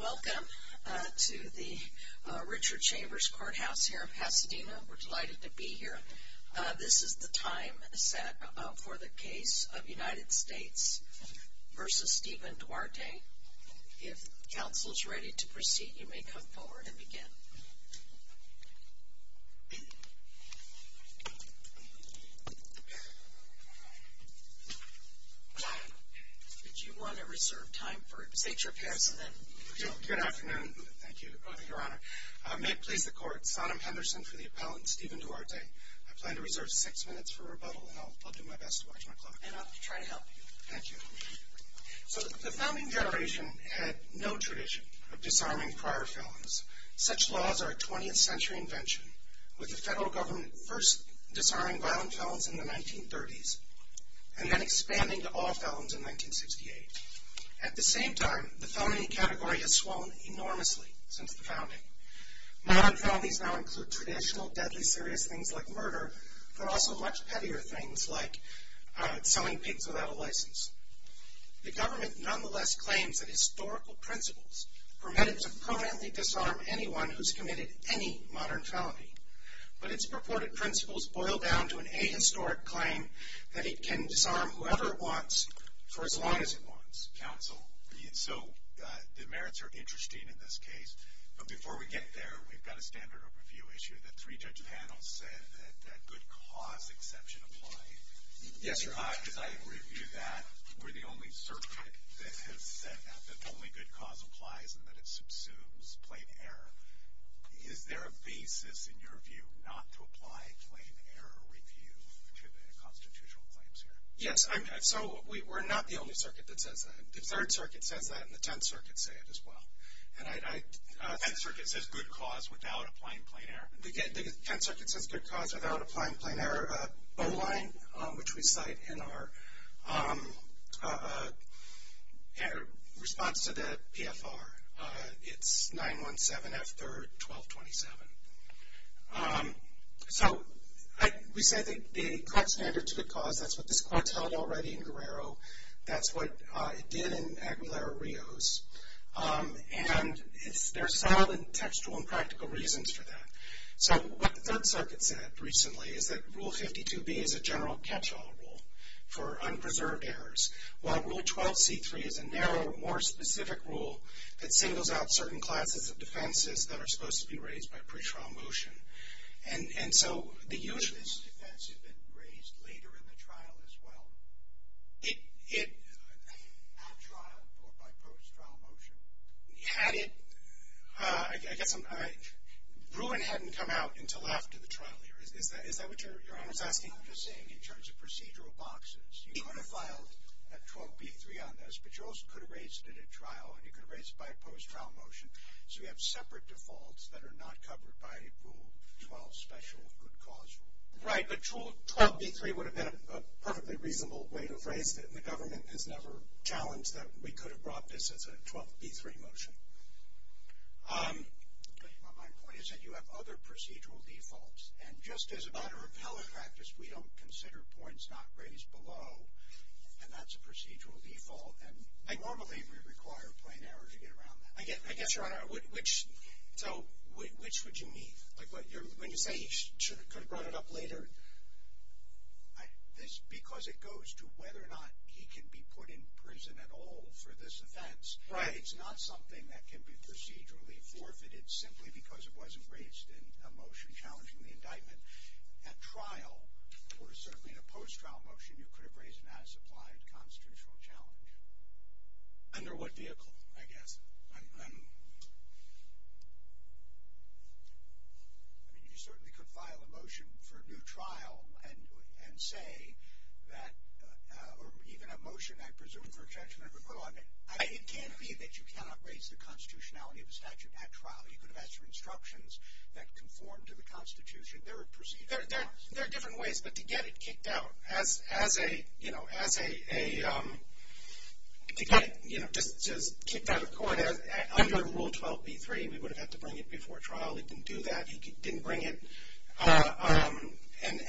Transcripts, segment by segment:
Welcome to the Richard Chambers Courthouse here in Pasadena. We're delighted to be here. This is the time set for the case of United States v. Steven Duarte. If counsel is ready to proceed, you may come forward and begin. Would you want to reserve time for state your appearance and then go? Good afternoon. Thank you, Your Honor. May it please the Court, Sonom Henderson for the appellant, Steven Duarte. I plan to reserve six minutes for rebuttal, and I'll do my best to watch my clock. And I'll try to help you. Thank you. So the founding generation had no tradition of disarming prior felons. Such laws are a 20th century invention, with the federal government first disarming violent felons in the 1930s and then expanding to all felons in 1968. At the same time, the felony category has swollen enormously since the founding. Modern felonies now include traditional, deadly, serious things like murder, but also much heavier things like selling pigs without a license. The government nonetheless claims that historical principles permitted to permanently disarm anyone who's committed any modern felony. But its purported principles boil down to an ahistoric claim that it can disarm whoever it wants for as long as it wants. Counsel, so the merits are interesting in this case. But before we get there, we've got a standard overview issue that three judge panels said that good cause exception applied. Yes, sir. Because I review that. We're the only circuit that has said that the only good cause applies and that it subsumes plain error. Is there a basis in your view not to apply plain error review to the constitutional claims here? Yes. So we're not the only circuit that says that. The Third Circuit says that, and the Tenth Circuit say it as well. The Tenth Circuit says good cause without applying plain error. The Tenth Circuit says good cause without applying plain error. Bowline, which we cite in our response to the PFR. It's 9-1-7-F-3-12-27. So we say the correct standard to good cause, that's what this court held already in Guerrero. That's what it did in Aguilera-Rios. And there are solid and textual and practical reasons for that. So what the Third Circuit said recently is that Rule 52B is a general catch-all rule for unpreserved errors, while Rule 12C-3 is a narrow, more specific rule that singles out certain classes of defenses that are supposed to be raised by pretrial motion. And so the use of this defense has been raised later in the trial as well. It... At trial or by post-trial motion? Had it... I guess I'm... Bruin hadn't come out until after the trial here. Is that what Your Honor is asking? I'm just saying in terms of procedural boxes. You could have filed a 12B-3 on this, but you also could have raised it at trial, and you could have raised it by post-trial motion. So you have separate defaults that are not covered by Rule 12, special good cause rule. Right. But 12B-3 would have been a perfectly reasonable way to raise it, and the government has never challenged that we could have brought this as a 12B-3 motion. My point is that you have other procedural defaults, and just as a matter of hella practice, we don't consider points not raised below, and that's a procedural default, and normally we require a plain error to get around that. I guess, Your Honor, which... So which would you need? Like when you say he could have brought it up later? Because it goes to whether or not he can be put in prison at all for this offense. Right. It's not something that can be procedurally forfeited simply because it wasn't raised in a motion challenging the indictment. At trial, or certainly in a post-trial motion, you could have raised an as-applied constitutional challenge. Under what vehicle, I guess? I mean, you certainly could file a motion for a new trial and say that... or even a motion, I presume, for a judgment of a court. It can't be that you cannot raise the constitutionality of a statute at trial. You could have asked for instructions that conform to the Constitution. There are procedural... There are different ways, but to get it kicked out, as a, you know, as a... to get it, you know, just kicked out of court, under Rule 12B-3, we would have had to bring it before trial. It didn't do that. He didn't bring it.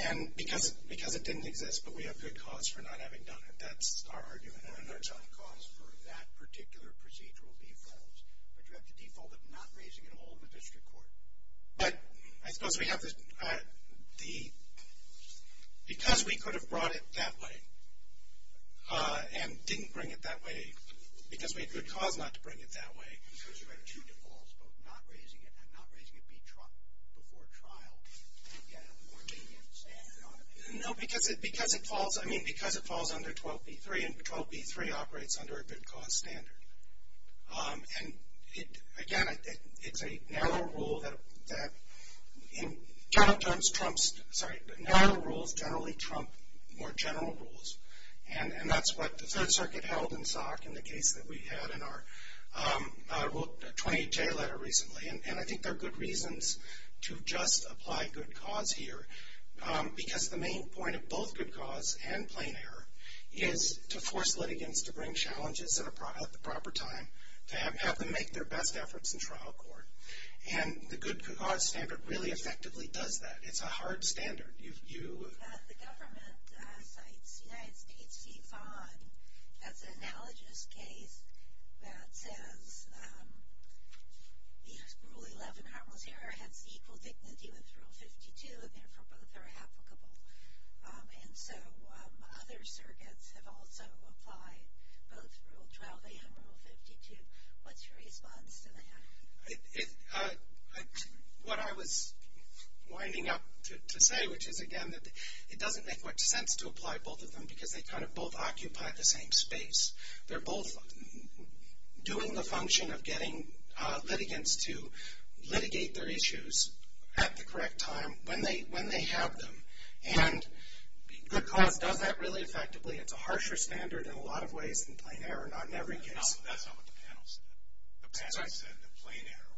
And because it didn't exist, but we have good cause for not having done it. That's our argument. And there's some cause for that particular procedural default. But you have the default of not raising it at all in the district court. But I suppose we have the... Because we could have brought it that way and didn't bring it that way, because we had good cause not to bring it that way... ...but not raising it and not raising it before trial to get a more lenient standard on it. No, because it falls... I mean, because it falls under 12B-3, and 12B-3 operates under a good cause standard. And, again, it's a narrow rule that, in general terms, narrow rules generally trump more general rules. And that's what the Third Circuit held in SOC in the case that we had in our 28J letter recently. And I think there are good reasons to just apply good cause here, because the main point of both good cause and plain error is to force litigants to bring challenges at the proper time, to have them make their best efforts in trial court. And the good cause standard really effectively does that. It's a hard standard. The government cites United States v. FON as an analogous case that says Rule 11, Harmless Error, has equal dignity with Rule 52, and therefore both are applicable. And so other circuits have also applied both Rule 12A and Rule 52. What's your response to that? What I was winding up to say, which is, again, that it doesn't make much sense to apply both of them because they kind of both occupy the same space. They're both doing the function of getting litigants to litigate their issues at the correct time when they have them. And good cause does that really effectively. It's a harsher standard in a lot of ways than plain error, not in every case. That's not what the panel said. The panel said that plain error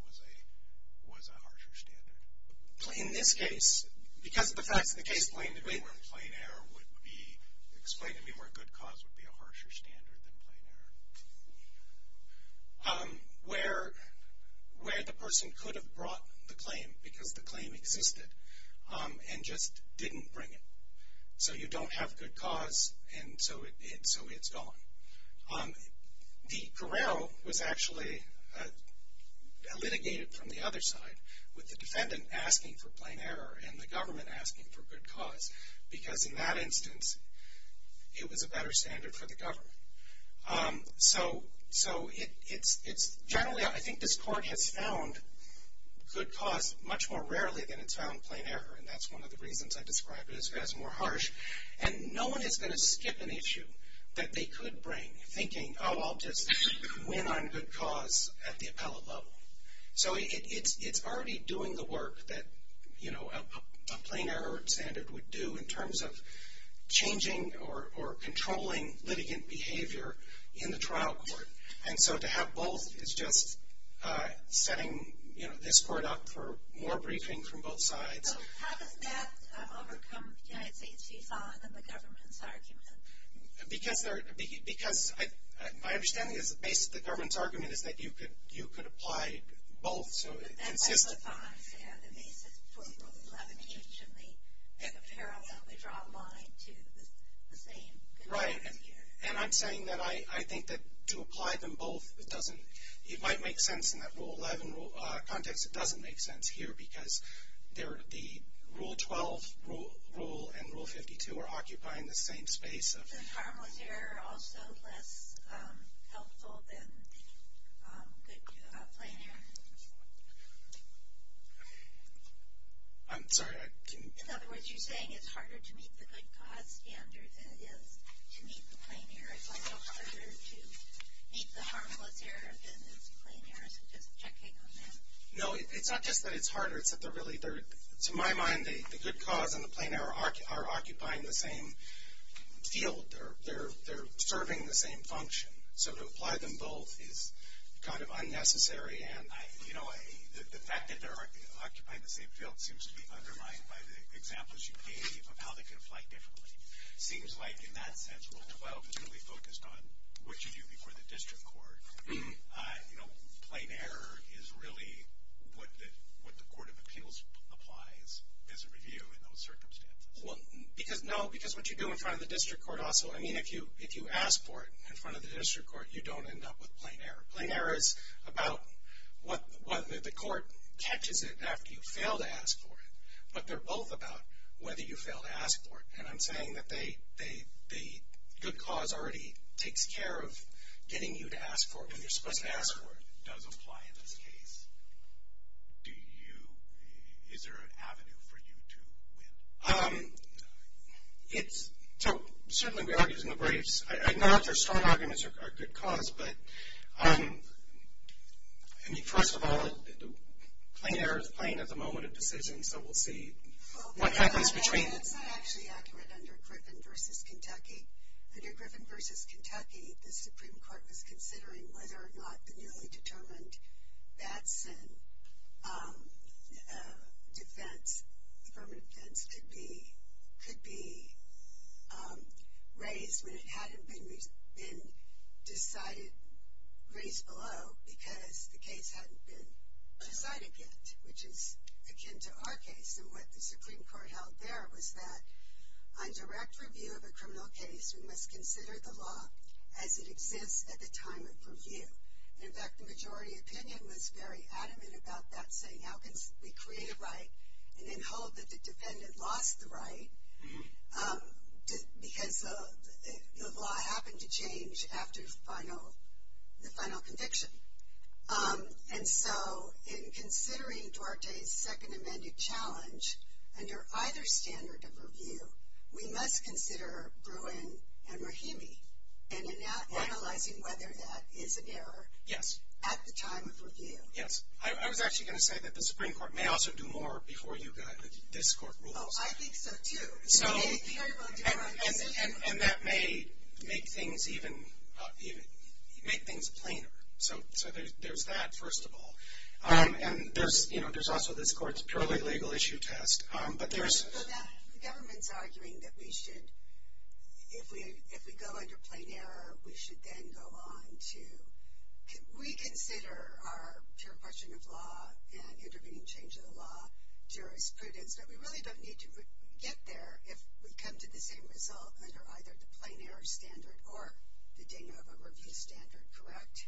was a harsher standard. In this case, because of the facts of the case... Explain to me where good cause would be a harsher standard than plain error. Where the person could have brought the claim because the claim existed and just didn't bring it. So you don't have good cause, and so it's gone. The corral was actually litigated from the other side with the defendant asking for plain error and the government asking for good cause because in that instance, it was a better standard for the government. So generally, I think this court has found good cause much more rarely than it's found plain error, and that's one of the reasons I described it as more harsh. And no one is going to skip an issue that they could bring, thinking, oh, I'll just win on good cause at the appellate level. So it's already doing the work that a plain error standard would do in terms of changing or controlling litigant behavior in the trial court. And so to have both is just setting this court up for more briefing from both sides. So how does that overcome the United States v. Thon and the government's argument? Because my understanding is the base of the government's argument is that you could apply both. But that's what Thon said. The basis for Rule 11H and the parallel, they draw a line to the same. Right. And I'm saying that I think that to apply them both, it might make sense in that Rule 11 context. It doesn't make sense here because the Rule 12 rule and Rule 52 are occupying the same space. Isn't harmless error also less helpful than good plain error? I'm sorry. In other words, you're saying it's harder to meet the good cause standard than it is to meet the plain error. It's also harder to meet the harmless error than it is the plain error. No, it's not just that it's harder. To my mind, the good cause and the plain error are occupying the same field. They're serving the same function. So to apply them both is kind of unnecessary. And the fact that they're occupying the same field seems to be undermined by the examples you gave of how they can apply differently. It seems like in that sense, Rule 12 is really focused on what you do before the district court. Plain error is really what the Court of Appeals applies as a review in those circumstances. No, because what you do in front of the district court also. I mean, if you ask for it in front of the district court, you don't end up with plain error. Plain error is about whether the court catches it after you fail to ask for it. But they're both about whether you fail to ask for it. And I'm saying that the good cause already takes care of getting you to ask for it when you're supposed to ask for it. If it does apply in this case, is there an avenue for you to win? So certainly we argue in the briefs. I know that there are strong arguments for a good cause. But, I mean, first of all, plain error is plain at the moment of decision. So we'll see what happens between. That's not actually accurate under Griffin v. Kentucky. Under Griffin v. Kentucky, the Supreme Court was considering whether or not the newly determined Batson affirmative defense could be raised when it hadn't been raised below because the case hadn't been decided yet, which is akin to our case. And what the Supreme Court held there was that on direct review of a criminal case, we must consider the law as it exists at the time of review. In fact, the majority opinion was very adamant about that, saying how can we create a right and then hold that the defendant lost the right because the law happened to change after the final conviction. And so in considering Duarte's second amended challenge under either standard of review, we must consider Bruin and Rahimi and analyzing whether that is an error. At the time of review. Yes. I was actually going to say that the Supreme Court may also do more before you got this court ruled. Oh, I think so, too. And that may make things even, make things plainer. So there's that, first of all. And there's also this court's purely legal issue test. But there's. The government's arguing that we should, if we go under plain error, we should then go on to reconsider our pure question of law and intervening change of the law jurisprudence. But we really don't need to get there if we come to the same result under either the plain error standard or the Danova review standard, correct?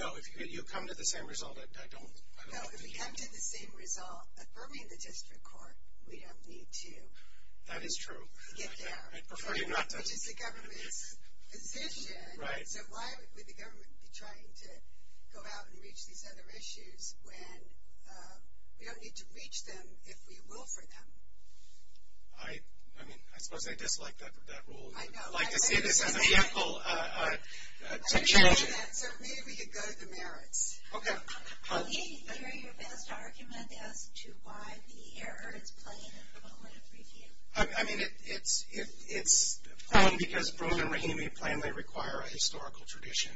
No, if you come to the same result, I don't. No, if we come to the same result affirming the district court, we don't need to. That is true. Get there. I'd prefer you not to. Which is the government's position. Right. So why would the government be trying to go out and reach these other issues when we don't need to reach them if we will for them? I mean, I suppose I dislike that rule. I'd like to see this as a vehicle to change it. I agree with that. So maybe we could go to the merits. Okay. I didn't hear your best argument as to why the error is plain at the moment of review. I mean, it's plain because Broome and Rahimi plainly require a historical tradition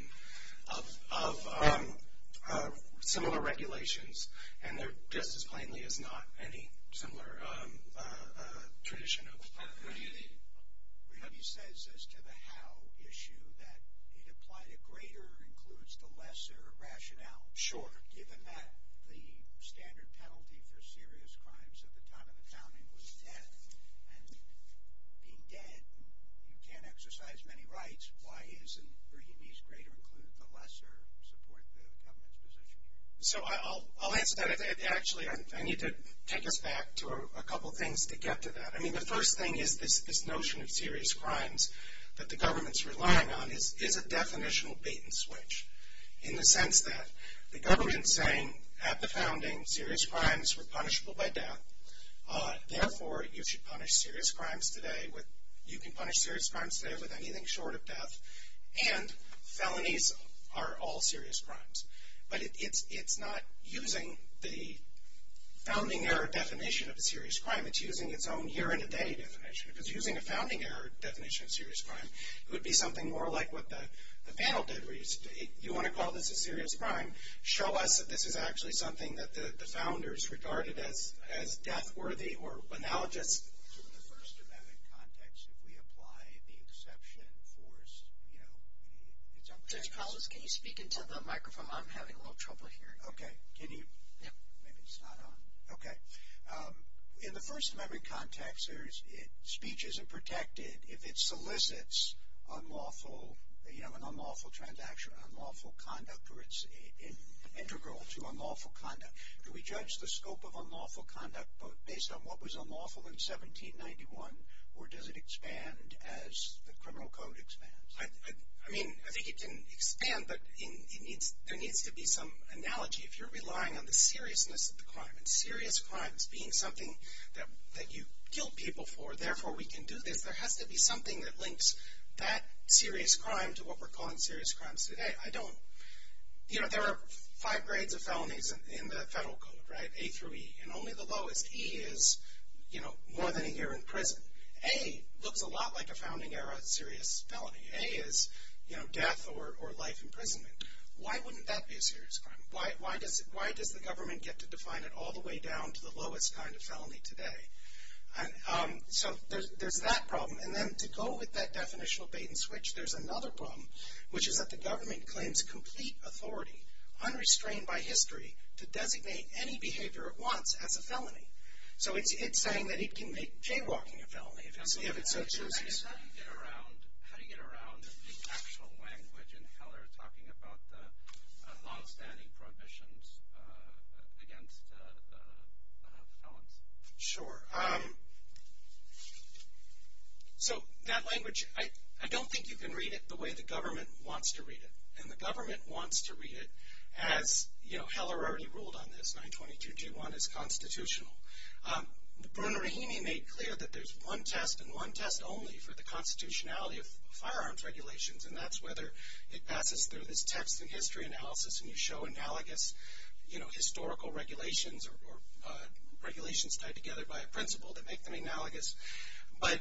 of similar regulations, and they're just as plainly as not any similar tradition of review. Rahimi says as to the how issue that it applied to greater includes the lesser rationale. Given that the standard penalty for serious crimes at the time of the founding was death, and being dead you can't exercise many rights, why isn't Rahimi's greater include the lesser support the government's position here? So I'll answer that. Actually, I need to take us back to a couple things to get to that. I mean, the first thing is this notion of serious crimes that the government's relying on is a definitional bait and switch in the sense that the government's saying at the founding serious crimes were punishable by death. Therefore, you should punish serious crimes today, you can punish serious crimes today with anything short of death, and felonies are all serious crimes. But it's not using the founding error definition of a serious crime, it's using its own here and today definition. Because using a founding error definition of serious crime would be something more like what the panel did. You want to call this a serious crime, show us that this is actually something that the founders regarded as death worthy or analogous. In the First Amendment context, if we apply the exception force, you know, it's up to us. Judge Collins, can you speak into the microphone? I'm having a little trouble hearing you. Okay. Can you? Yeah. Maybe it's not on. Okay. In the First Amendment context, speech isn't protected if it solicits unlawful, you know, integral to unlawful conduct. Do we judge the scope of unlawful conduct based on what was unlawful in 1791, or does it expand as the criminal code expands? I mean, I think it can expand, but there needs to be some analogy. If you're relying on the seriousness of the crime, and serious crimes being something that you kill people for, therefore we can do this, there has to be something that links that serious crime to what we're calling serious crimes today. I don't. You know, there are five grades of felonies in the federal code, right, A through E. And only the lowest, E, is, you know, more than a year in prison. A looks a lot like a founding era serious felony. A is, you know, death or life imprisonment. Why wouldn't that be a serious crime? Why does the government get to define it all the way down to the lowest kind of felony today? So there's that problem. And then to go with that definitional bait and switch, there's another problem, which is that the government claims complete authority, unrestrained by history, to designate any behavior it wants as a felony. So it's saying that it can make jaywalking a felony if it so chooses. How do you get around the actual language in Heller talking about the longstanding prohibitions against felons? Sure. So that language, I don't think you can read it the way the government wants to read it. And the government wants to read it as, you know, Heller already ruled on this, 922-G1 is constitutional. Bruno Rahimi made clear that there's one test and one test only for the constitutionality of firearms regulations, and that's whether it passes through this text and history analysis and you show analogous historical regulations or regulations tied together by a principle that make them analogous. But,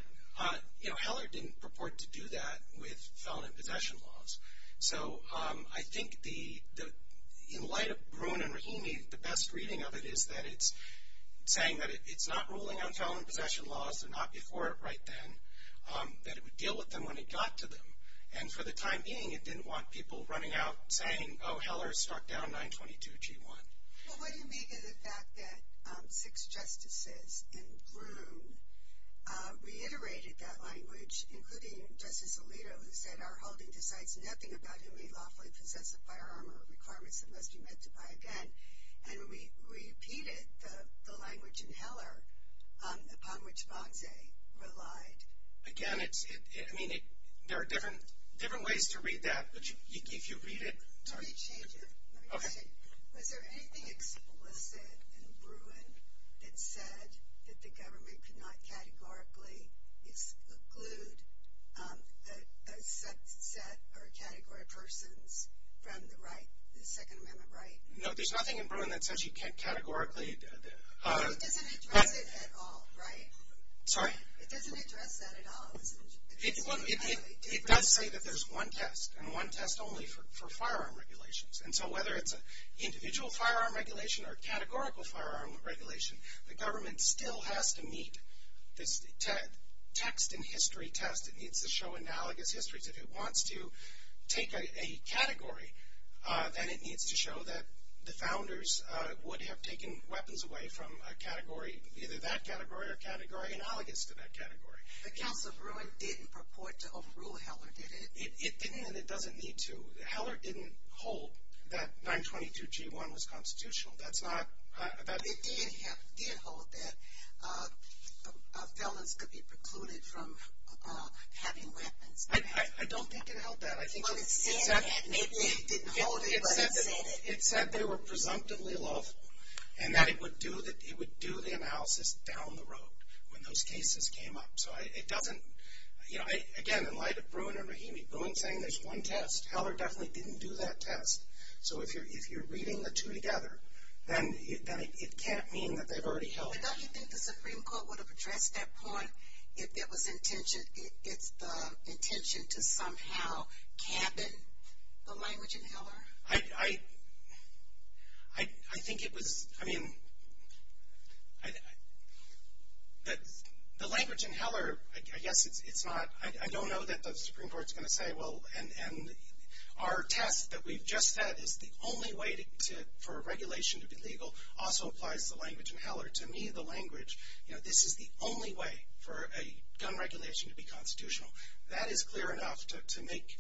you know, Heller didn't purport to do that with felon and possession laws. So I think in light of Bruno Rahimi, the best reading of it is that it's saying that it's not ruling on felon and possession laws, they're not before it right then, that it would deal with them when it got to them. And for the time being, it didn't want people running out saying, oh, Heller struck down 922-G1. Well, what do you make of the fact that six justices in Broome reiterated that language, including Justice Alito, who said, our holding decides nothing about who may lawfully possess a firearm or requirements that must be met to buy a gun. And we repeated the language in Heller upon which Bonsai relied. Again, I mean, there are different ways to read that, but if you read it. Let me change it. Was there anything explicit in Bruin that said that the government could not categorically exclude a set or a category of persons from the Second Amendment right? No, there's nothing in Bruin that says you can't categorically. It doesn't address it at all, right? Sorry? It doesn't address that at all. It does say that there's one test, and one test only for firearm regulations. And so whether it's an individual firearm regulation or categorical firearm regulation, the government still has to meet this text and history test. It needs to show analogous histories. If it wants to take a category, then it needs to show that the founders would have taken weapons away from a category, either that category or a category analogous to that category. But Council of Bruin didn't purport to overrule Heller, did it? It didn't, and it doesn't need to. Heller didn't hold that 922G1 was constitutional. That's not. It did hold that felons could be precluded from having weapons. I don't think it held that. Well, it said that. Maybe it didn't hold it, but it said it. It said they were presumptively lawful and that it would do the analysis down the road when those cases came up. So it doesn't, you know, again, in light of Bruin and Rahimi, Bruin saying there's one test, Heller definitely didn't do that test. So if you're reading the two together, then it can't mean that they've already held it. But don't you think the Supreme Court would have addressed that point if it was intentioned, if it's the intention to somehow cabin the language in Heller? I think it was, I mean, the language in Heller, I guess it's not, I don't know that the Supreme Court's going to say, well, and our test that we've just said is the only way for regulation to be legal also applies to the language in Heller. To me, the language, you know, this is the only way for a gun regulation to be constitutional. That is clear enough to make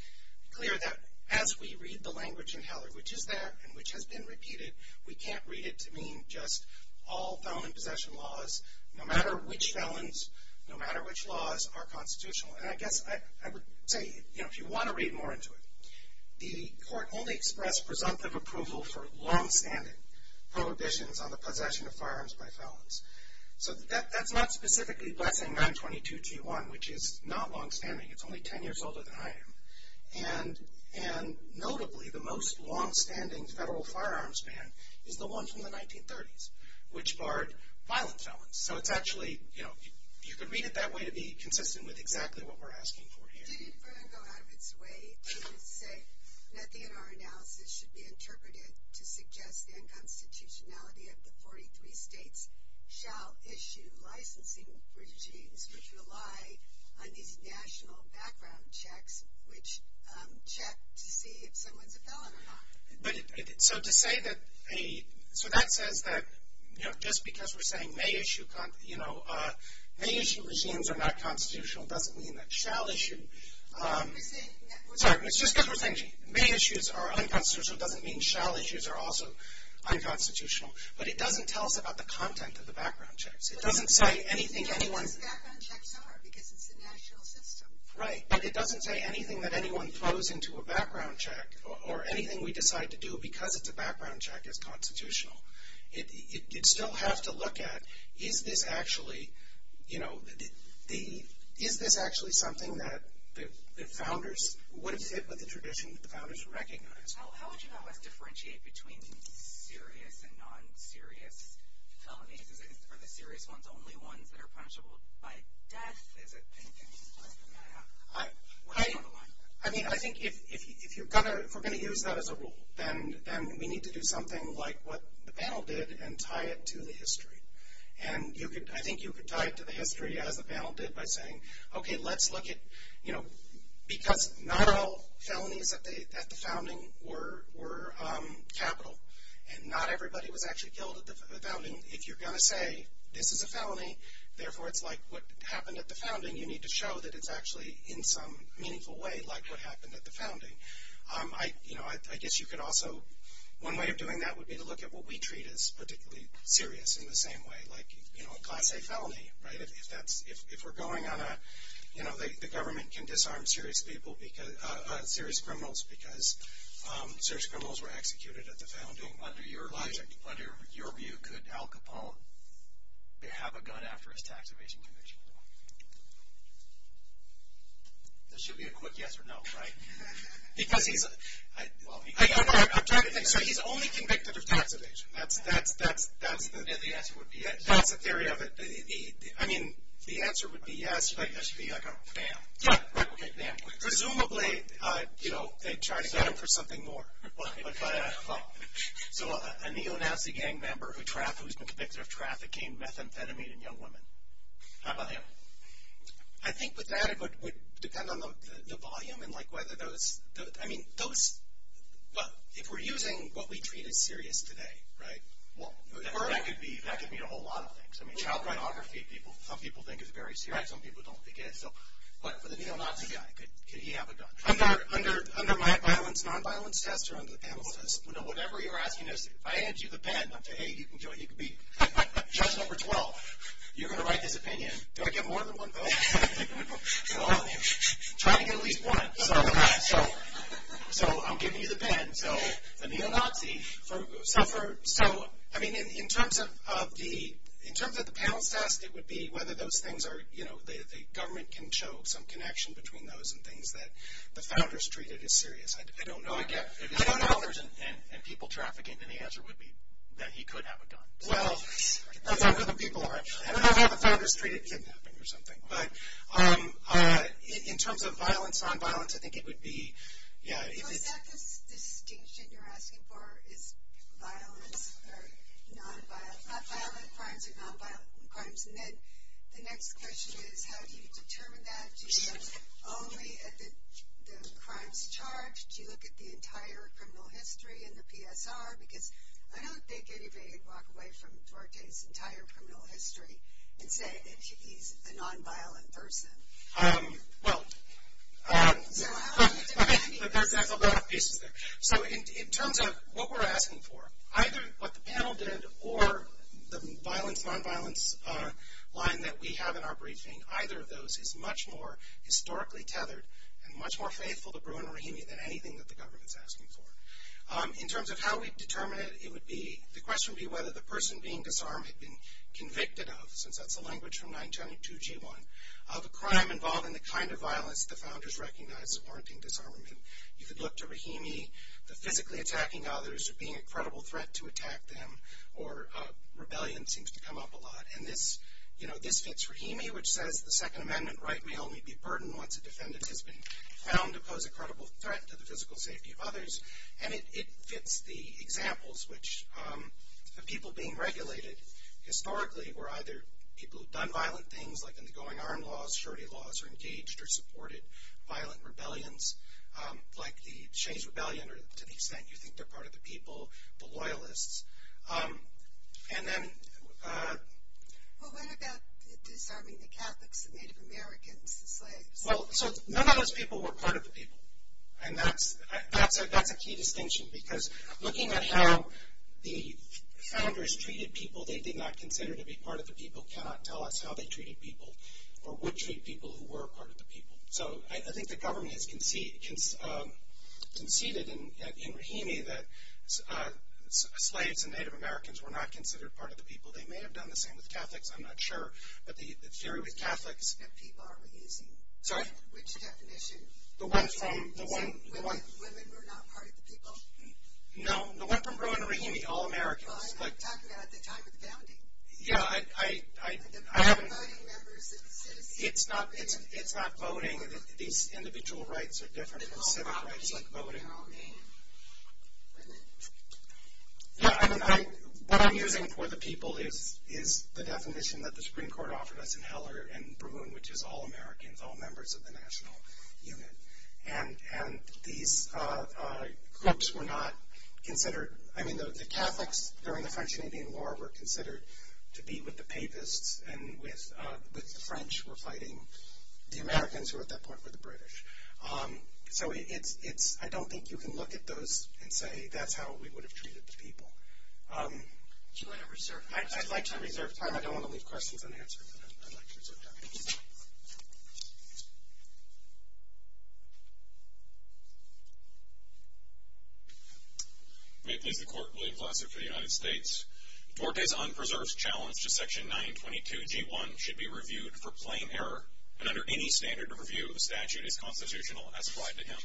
clear that as we read the language in Heller, which is there and which has been repeated, we can't read it to mean just all felon in possession laws, no matter which felons, no matter which laws, are constitutional. And I guess I would say, you know, if you want to read more into it, the court only expressed presumptive approval for longstanding prohibitions on the possession of firearms by felons. So that's not specifically blessing 922 T1, which is not longstanding. It's only 10 years older than I am. And notably, the most longstanding federal firearms ban is the one from the 1930s, which barred violent felons. So it's actually, you know, you could read it that way to be consistent with exactly what we're asking for here. It didn't go out of its way to say nothing in our analysis should be interpreted to suggest the unconstitutionality of the 43 states shall issue licensing regimes which rely on these national background checks, which check to see if someone's a felon or not. So to say that a, so that says that, you know, just because we're saying may issue, you know, may issue regimes are not constitutional doesn't mean that shall issue. Sorry, it's just because we're saying may issues are unconstitutional doesn't mean shall issues are also unconstitutional. But it doesn't tell us about the content of the background checks. It doesn't say anything anyone. But it doesn't say what those background checks are because it's a national system. Right, but it doesn't say anything that anyone throws into a background check, or anything we decide to do because it's a background check is constitutional. You'd still have to look at is this actually, you know, the, is this actually something that the founders, would it fit with the tradition that the founders recognized? How would you know what's differentiated between serious and non-serious felonies? Are the serious ones the only ones that are punishable by death? Is it anything like that? I mean, I think if you're going to, if we're going to use that as a rule, then we need to do something like what the panel did and tie it to the history. And you could, I think you could tie it to the history as the panel did by saying, okay, let's look at, you know, because not all felonies at the founding were capital. And not everybody was actually killed at the founding. If you're going to say this is a felony, therefore it's like what happened at the founding, you need to show that it's actually in some meaningful way like what happened at the founding. I, you know, I guess you could also, one way of doing that would be to look at what we treat as particularly serious in the same way, like, you know, a class A felony, right? If that's, if we're going on a, you know, the government can disarm serious people because, serious criminals because serious criminals were executed at the founding. Under your logic, under your view, could Al Capone have a gun after his tax evasion conviction? There should be a quick yes or no, right? Because he's, well, I'm trying to think. So he's only convicted of tax evasion. That's, that's, that's, that's the. And the answer would be yes. That's the theory of it. I mean, the answer would be yes. That should be like a bam. Yeah. Replicate bam. Presumably, you know, they charged him for something more. So a neo-Nazi gang member who's been convicted of trafficking methamphetamine in young women. How about him? I think with that, it would depend on the volume and, like, whether those, I mean, those, if we're using what we treat as serious today, right, that could mean a whole lot of things. I mean, child pornography, people, some people think is very serious. Some people don't think it is. So, but for the neo-Nazi guy, could he have a gun? Under my violence, non-violence test or under the penal test? Whatever you're asking is, if I hand you the pen, I'm saying, hey, you can join, you can be judge number 12. You're going to write this opinion. Do I get more than one vote? Trying to get at least one. So I'm giving you the pen. So the neo-Nazi suffered. So, I mean, in terms of the penal test, it would be whether those things are, you know, the government can show some connection between those and things that the founders treated as serious. I don't know. I don't know. And people trafficking. And the answer would be that he could have a gun. Well, that's how the people are. I don't know how the founders treated kidnapping or something. But in terms of violence, non-violence, I think it would be, yeah. Is that the distinction you're asking for is violence or non-violent? Violent crimes or non-violent crimes? And then the next question is, how do you determine that? Do you look only at the crimes charged? Do you look at the entire criminal history and the PSR? Because I don't think anybody could walk away from Duarte's entire criminal history and say that he's a non-violent person. Well, that's a lot of pieces there. So in terms of what we're asking for, either what the panel did or the violence, non-violence line that we have in our briefing, either of those is much more historically tethered and much more faithful to Bruin or Rohingya than anything that the government's asking for. In terms of how we determine it, it would be, the question would be whether the person being disarmed had been convicted of, since that's the language from 922 G1, of a crime involving the kind of violence the founders recognized warranting disarmament. You could look to Rahimi, the physically attacking others or being a credible threat to attack them, or rebellion seems to come up a lot. And this fits Rahimi, which says the Second Amendment right may only be burdened once a defendant has been found to pose a credible threat to the physical safety of others. And it fits the examples, which the people being regulated historically were either people who've done violent things, like undergoing armed laws, shorty laws, or engaged or supported violent rebellions, like the Shane's Rebellion, or to the extent you think they're part of the people, the Loyalists. And then... Well, what about disarming the Catholics, the Native Americans, the slaves? Well, so none of those people were part of the people. And that's a key distinction, because looking at how the founders treated people they did not consider to be part of the people cannot tell us how they treated people, or would treat people who were part of the people. So I think the government has conceded in Rahimi that slaves and Native Americans were not considered part of the people. They may have done the same with Catholics, I'm not sure. But the theory with Catholics... Sorry? The one from... No, the one from Bruin and Rahimi, all Americans. Yeah, I haven't... It's not voting. These individual rights are different from civic rights like voting. Yeah, what I'm using for the people is the definition that the Supreme Court offered us for Heller and Bruin, which is all Americans, all members of the national unit. And these groups were not considered... I mean, the Catholics during the French and Indian War were considered to be with the Papists, and with the French were fighting the Americans, who at that point were the British. So I don't think you can look at those and say that's how we would have treated the people. Do you want to reserve time? I'd like to reserve time. I don't want to leave questions unanswered, but I'd like to reserve time. May it please the Court, William Glasser for the United States. Duarte's unpreserved challenge to Section 922G1 should be reviewed for plain error, and under any standard of review, the statute is constitutional as applied to him.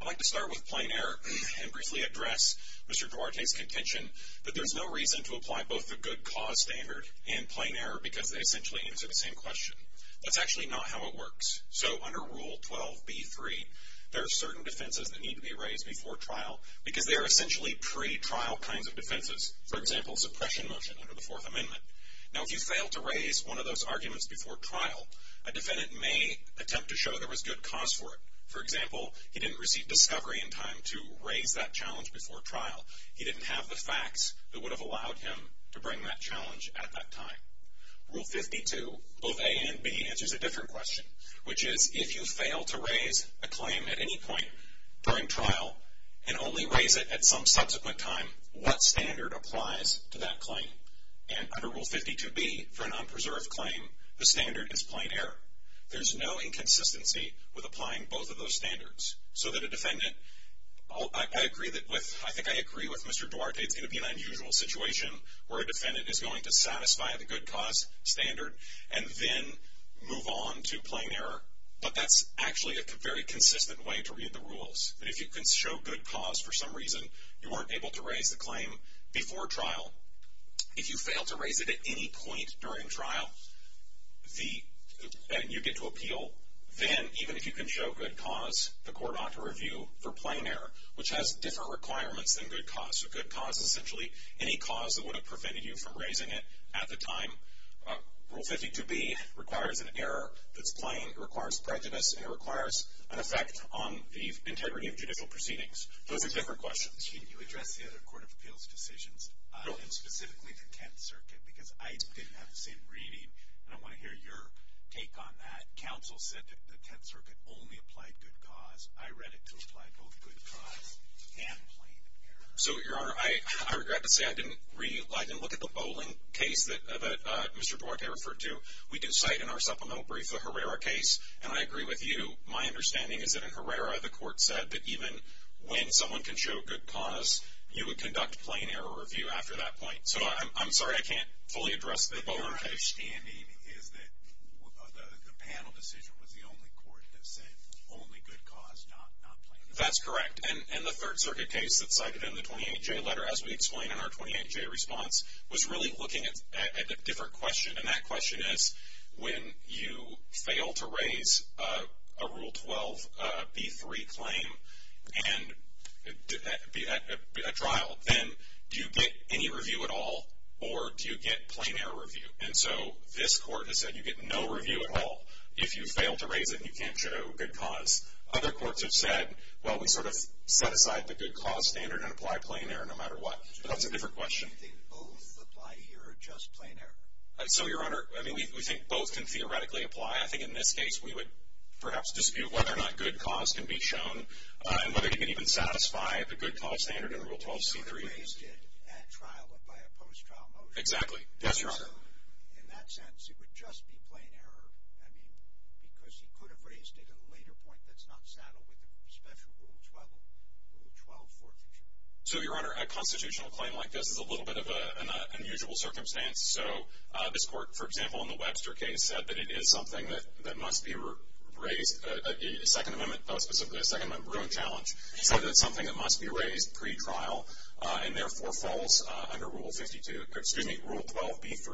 I'd like to start with plain error and briefly address Mr. Duarte's contention that there's no reason to apply both the good cause standard and plain error because they essentially answer the same question. That's actually not how it works. So under Rule 12b3, there are certain defenses that need to be raised before trial because they are essentially pretrial kinds of defenses, for example, suppression motion under the Fourth Amendment. Now, if you fail to raise one of those arguments before trial, a defendant may attempt to show there was good cause for it. For example, he didn't receive discovery in time to raise that challenge before trial. He didn't have the facts that would have allowed him to bring that challenge at that time. Rule 52, both A and B, answers a different question, which is if you fail to raise a claim at any point during trial and only raise it at some subsequent time, what standard applies to that claim? And under Rule 52b, for an unpreserved claim, the standard is plain error. There's no inconsistency with applying both of those standards so that a defendant, I think I agree with Mr. Duarte, it's going to be an unusual situation where a defendant is going to satisfy the good cause standard and then move on to plain error. But that's actually a very consistent way to read the rules. If you can show good cause for some reason you weren't able to raise the claim before trial, if you fail to raise it at any point during trial and you get to appeal, then even if you can show good cause, the court ought to review for plain error, which has different requirements than good cause. So good cause is essentially any cause that would have prevented you from raising it at the time. Rule 52b requires an error that's plain, it requires prejudice, and it requires an effect on the integrity of judicial proceedings. Those are different questions. Can you address the other court of appeals decisions, and specifically the Tenth Circuit, because I didn't have the same reading, and I want to hear your take on that. The counsel said the Tenth Circuit only applied good cause. I read it to apply both good cause and plain error. So, Your Honor, I regret to say I didn't look at the Bowling case that Mr. Duarte referred to. We do cite in our supplemental brief the Herrera case, and I agree with you. My understanding is that in Herrera the court said that even when someone can show good cause, you would conduct plain error review after that point. So I'm sorry I can't fully address the Bowling case. My understanding is that the panel decision was the only court that said only good cause, not plain error. That's correct. And the Third Circuit case that's cited in the 28J letter, as we explain in our 28J response, was really looking at a different question, and that question is when you fail to raise a Rule 12b-3 claim at trial, then do you get any review at all, or do you get plain error review? And so this court has said you get no review at all. If you fail to raise it, you can't show good cause. Other courts have said, well, we sort of set aside the good cause standard and apply plain error no matter what. But that's a different question. Do you think both apply here or just plain error? So, Your Honor, I mean, we think both can theoretically apply. I think in this case we would perhaps dispute whether or not good cause can be shown and whether it can even satisfy the good cause standard in the Rule 12c-3. He could have raised it at trial and by a post-trial motion. Exactly. Yes, Your Honor. In that sense, it would just be plain error, I mean, because he could have raised it at a later point that's not saddled with the special Rule 12 forfeiture. So, Your Honor, a constitutional claim like this is a little bit of an unusual circumstance. So this court, for example, in the Webster case, said that it is something that must be raised in the Second Amendment, specifically the Second Amendment ruling challenge. He said that it's something that must be raised pre-trial and therefore falls under Rule 12b-3.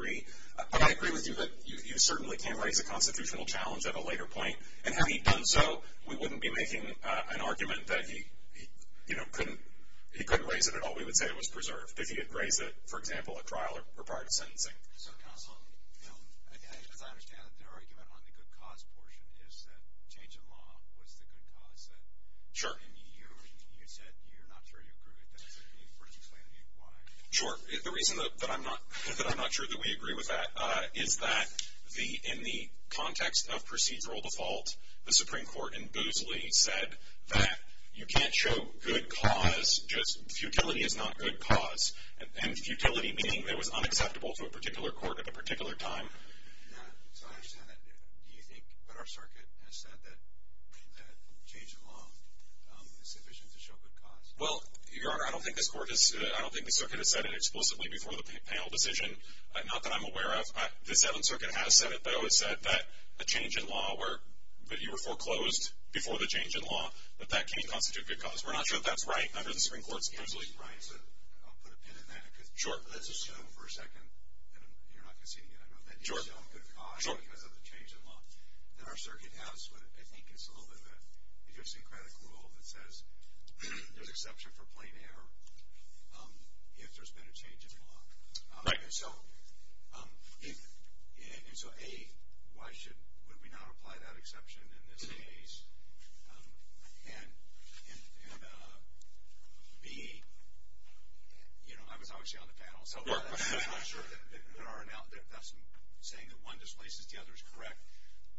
But I agree with you that you certainly can raise a constitutional challenge at a later point. And had he done so, we wouldn't be making an argument that he couldn't raise it at all. We would say it was preserved if he had raised it, for example, at trial or prior to sentencing. Counsel, as I understand it, your argument on the good cause portion is that change in law was the good cause. Sure. And you said you're not sure you agree with that. Can you briefly explain why? Sure. The reason that I'm not sure that we agree with that is that in the context of procedural default, the Supreme Court in Boosley said that you can't show good cause, just futility is not good cause. And futility meaning it was unacceptable to a particular court at a particular time. So I understand that. Do you think what our circuit has said, that change in law is sufficient to show good cause? Well, Your Honor, I don't think the circuit has said it explicitly before the panel decision. Not that I'm aware of. The Seventh Circuit has said it, though. It said that a change in law where you were foreclosed before the change in law, that that can't constitute good cause. We're not sure if that's right under the Supreme Court's Boosley. Right. So I'll put a pin in that. Sure. Let's assume for a second, and you're not conceding it, I know, that there's no good cause because of the change in law that our circuit has. But I think it's a little bit of an idiosyncratic rule that says there's exception for plain error if there's been a change in law. Right. And so, A, why should we not apply that exception in this case? And, B, you know, I was obviously on the panel, so I'm not sure that that's saying that one displaces the other is correct.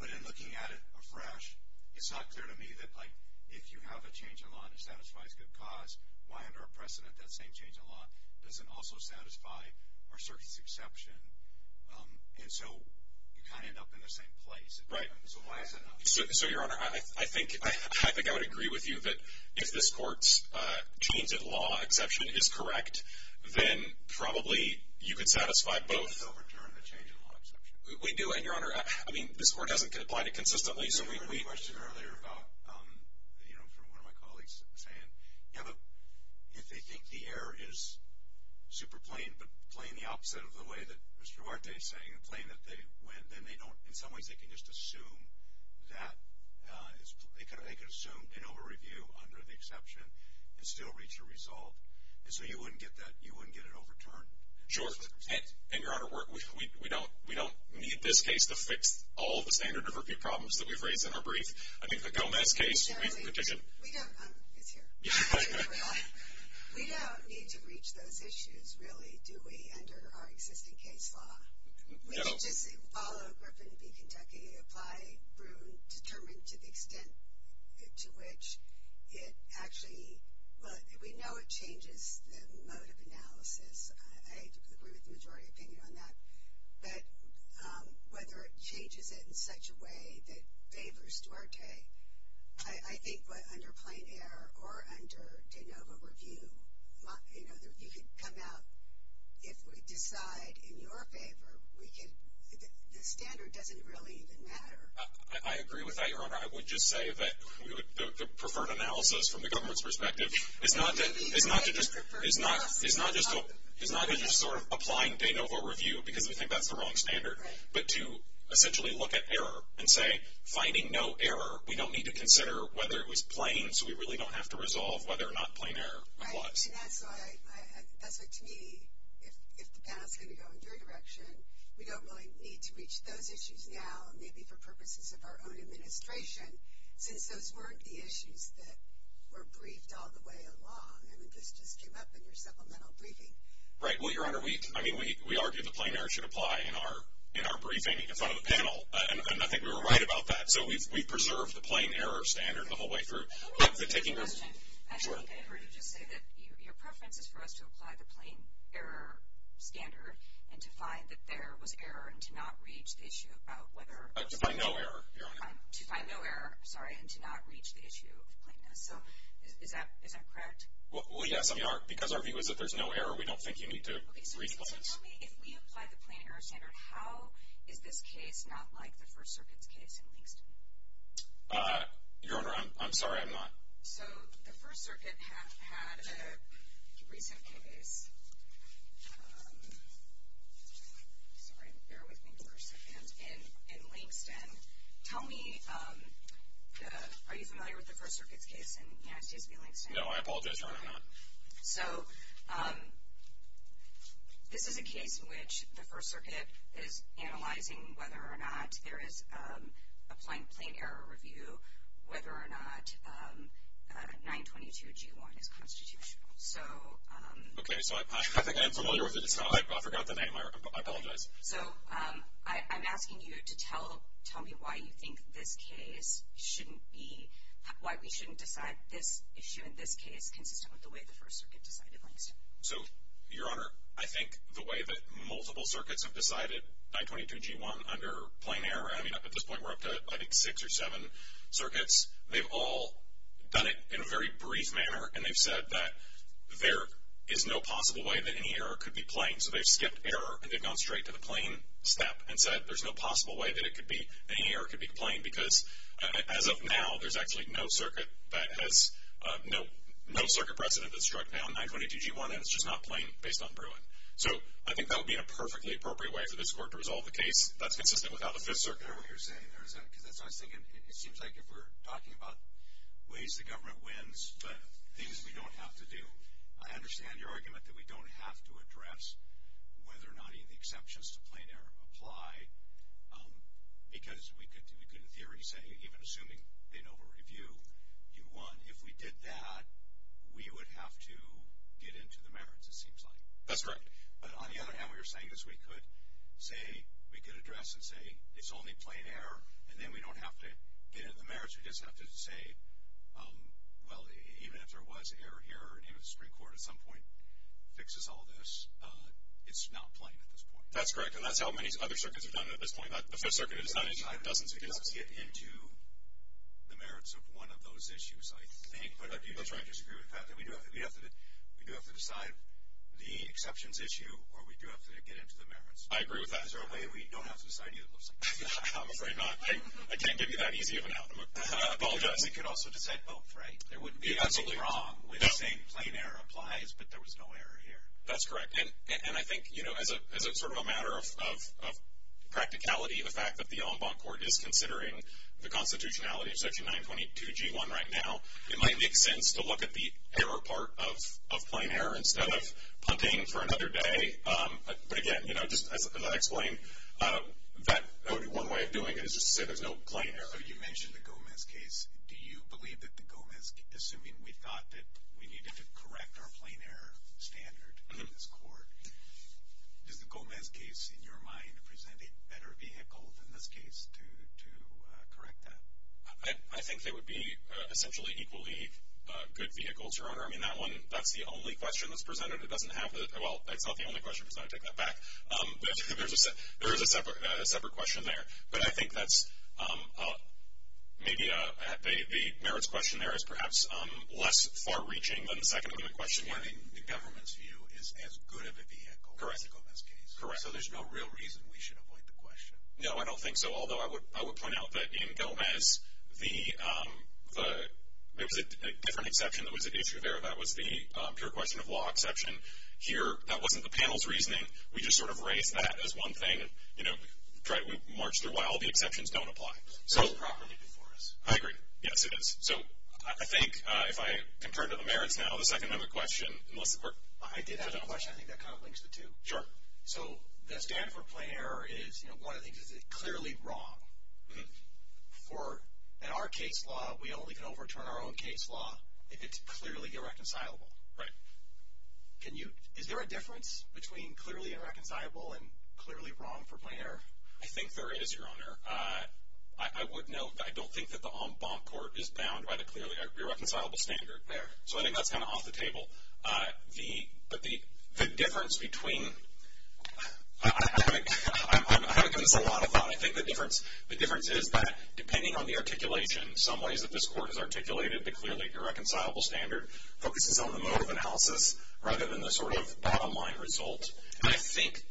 But in looking at it afresh, it's not clear to me that, like, if you have a change in law and it satisfies good cause, why under a precedent, that same change in law doesn't also satisfy our circuit's exception? And so you kind of end up in the same place. Right. So why is that not true? So, Your Honor, I think I would agree with you that if this court's change in law exception is correct, then probably you could satisfy both. It doesn't overturn the change in law exception. We do. And, Your Honor, I mean, this court hasn't applied it consistently. There was a question earlier about, you know, from one of my colleagues saying, yeah, but if they think the error is super plain but plain the opposite of the way that Mr. Huarte is saying, plain that they win, then they don't, in some ways they can just assume that, they can assume an over-review under the exception and still reach a result. And so you wouldn't get that, you wouldn't get it overturned. Sure. And, Your Honor, we don't need this case to fix all the standard of review problems that we've raised in our brief. I think the Gomez case, we petitioned. We don't. It's here. We don't need to reach those issues, really, do we, under our existing case law. We can just follow Griffin v. Kentucky, apply Bruin, determine to the extent to which it actually, well, we know it changes the mode of analysis. I agree with the majority opinion on that. But whether it changes it in such a way that favors Duarte, I think under plain error or under de novo review, you could come out, if we decide in your favor, we could, the standard doesn't really even matter. I agree with that, Your Honor. I would just say that the preferred analysis, from the government's perspective, is not just sort of applying de novo review because we think that's the wrong standard, but to essentially look at error and say, finding no error, we don't need to consider whether it was plain, so we really don't have to resolve whether or not plain error applies. And that's what, to me, if the panel is going to go in your direction, we don't really need to reach those issues now, maybe for purposes of our own administration, since those weren't the issues that were briefed all the way along, and this just came up in your supplemental briefing. Right. Well, Your Honor, we argued that plain error should apply in our briefing in front of the panel, and I think we were right about that. So we've preserved the plain error standard the whole way through. Let me ask you a question. Sure. I think I heard you just say that your preference is for us to apply the plain error standard and to find that there was error and to not reach the issue about whether or not. To find no error, Your Honor. To find no error, sorry, and to not reach the issue of plainness. So is that correct? Well, yes, I mean, because our view is that there's no error, we don't think you need to reach plainness. Tell me, if we apply the plain error standard, how is this case not like the First Circuit's case in Langston? Your Honor, I'm sorry, I'm not. So the First Circuit had a recent case, sorry, bear with me for a second, in Langston. Tell me, are you familiar with the First Circuit's case in United States v. Langston? No, I apologize, Your Honor, I'm not. So this is a case in which the First Circuit is analyzing whether or not there is a plain error review, whether or not 922G1 is constitutional. Okay, so I think I am familiar with it. I forgot the name. I apologize. So I'm asking you to tell me why you think this case shouldn't be, why we shouldn't decide this issue in this case consistent with the way the First Circuit decided Langston. So, Your Honor, I think the way that multiple circuits have decided 922G1 under plain error, I mean, at this point we're up to, I think, six or seven circuits. They've all done it in a very brief manner, and they've said that there is no possible way that any error could be plain. So they've skipped error, and they've gone straight to the plain step and said there's no possible way that it could be, that any error could be plain because, as of now, there's actually no circuit that has, no circuit precedent that's struck down 922G1, and it's just not plain based on Bruin. So I think that would be a perfectly appropriate way for this Court to resolve the case. That's consistent with how the Fifth Circuit. I don't know what you're saying there, is that because that's what I was thinking. It seems like if we're talking about ways the government wins but things we don't have to do, I understand your argument that we don't have to address whether or not any of the exceptions to plain error apply because we could, in theory, say, even assuming they know we'll review, if we did that, we would have to get into the merits, it seems like. That's correct. But on the other hand, what you're saying is we could address and say it's only plain error, and then we don't have to get into the merits. We just have to say, well, even if there was an error here, maybe the Supreme Court at some point fixes all this, it's not plain at this point. That's correct, and that's how many other circuits have done it at this point. The Fifth Circuit has done it in dozens of cases. We do have to get into the merits of one of those issues, I think, but I do disagree with the fact that we do have to decide the exceptions issue or we do have to get into the merits. I agree with that. Is there a way we don't have to decide either of those things? I'm afraid not. I can't give you that easy of an outcome. I apologize. We could also decide both, right? There wouldn't be anything wrong with saying plain error applies, but there was no error here. That's correct. And I think, you know, as sort of a matter of practicality, the fact that the Ombud Court is considering the constitutionality of Section 922G1 right now, it might make sense to look at the error part of plain error instead of punting for another day. But, again, you know, just as I explained, one way of doing it is just to say there's no plain error. You mentioned the Gomez case. Do you believe that the Gomez, assuming we thought that we needed to correct our plain error standard in this court, does the Gomez case, in your mind, present a better vehicle than this case to correct that? I think they would be essentially equally good vehicles, Your Honor. I mean, that one, that's the only question that's presented. It doesn't have the, well, it's not the only question. I'm just going to take that back. There is a separate question there. But I think that's maybe the merits question there is perhaps less far-reaching than the second part of the question. You're saying the government's view is as good of a vehicle as the Gomez case. Correct. So there's no real reason we should avoid the question. No, I don't think so. Although I would point out that in Gomez, there was a different exception that was at issue there. That was the pure question of law exception. Here, that wasn't the panel's reasoning. We just sort of raised that as one thing. We marched through why all the exceptions don't apply. It was properly before us. I agree. Yes, it is. So I think if I can turn to the merits now, the second part of the question. I did have a question. I think that kind of links the two. So the stand for plain error is, you know, one of the things is it's clearly wrong. In our case law, we only can overturn our own case law if it's clearly irreconcilable. Right. Is there a difference between clearly irreconcilable and clearly wrong for plain error? I think there is, Your Honor. I would note that I don't think that the en banc court is bound by the clearly irreconcilable standard there. So I think that's kind of off the table. But the difference between—I haven't given this a lot of thought. I think the difference is that depending on the articulation, some ways that this court has articulated the clearly irreconcilable standard focuses on the mode of analysis rather than the sort of bottom line result. And I think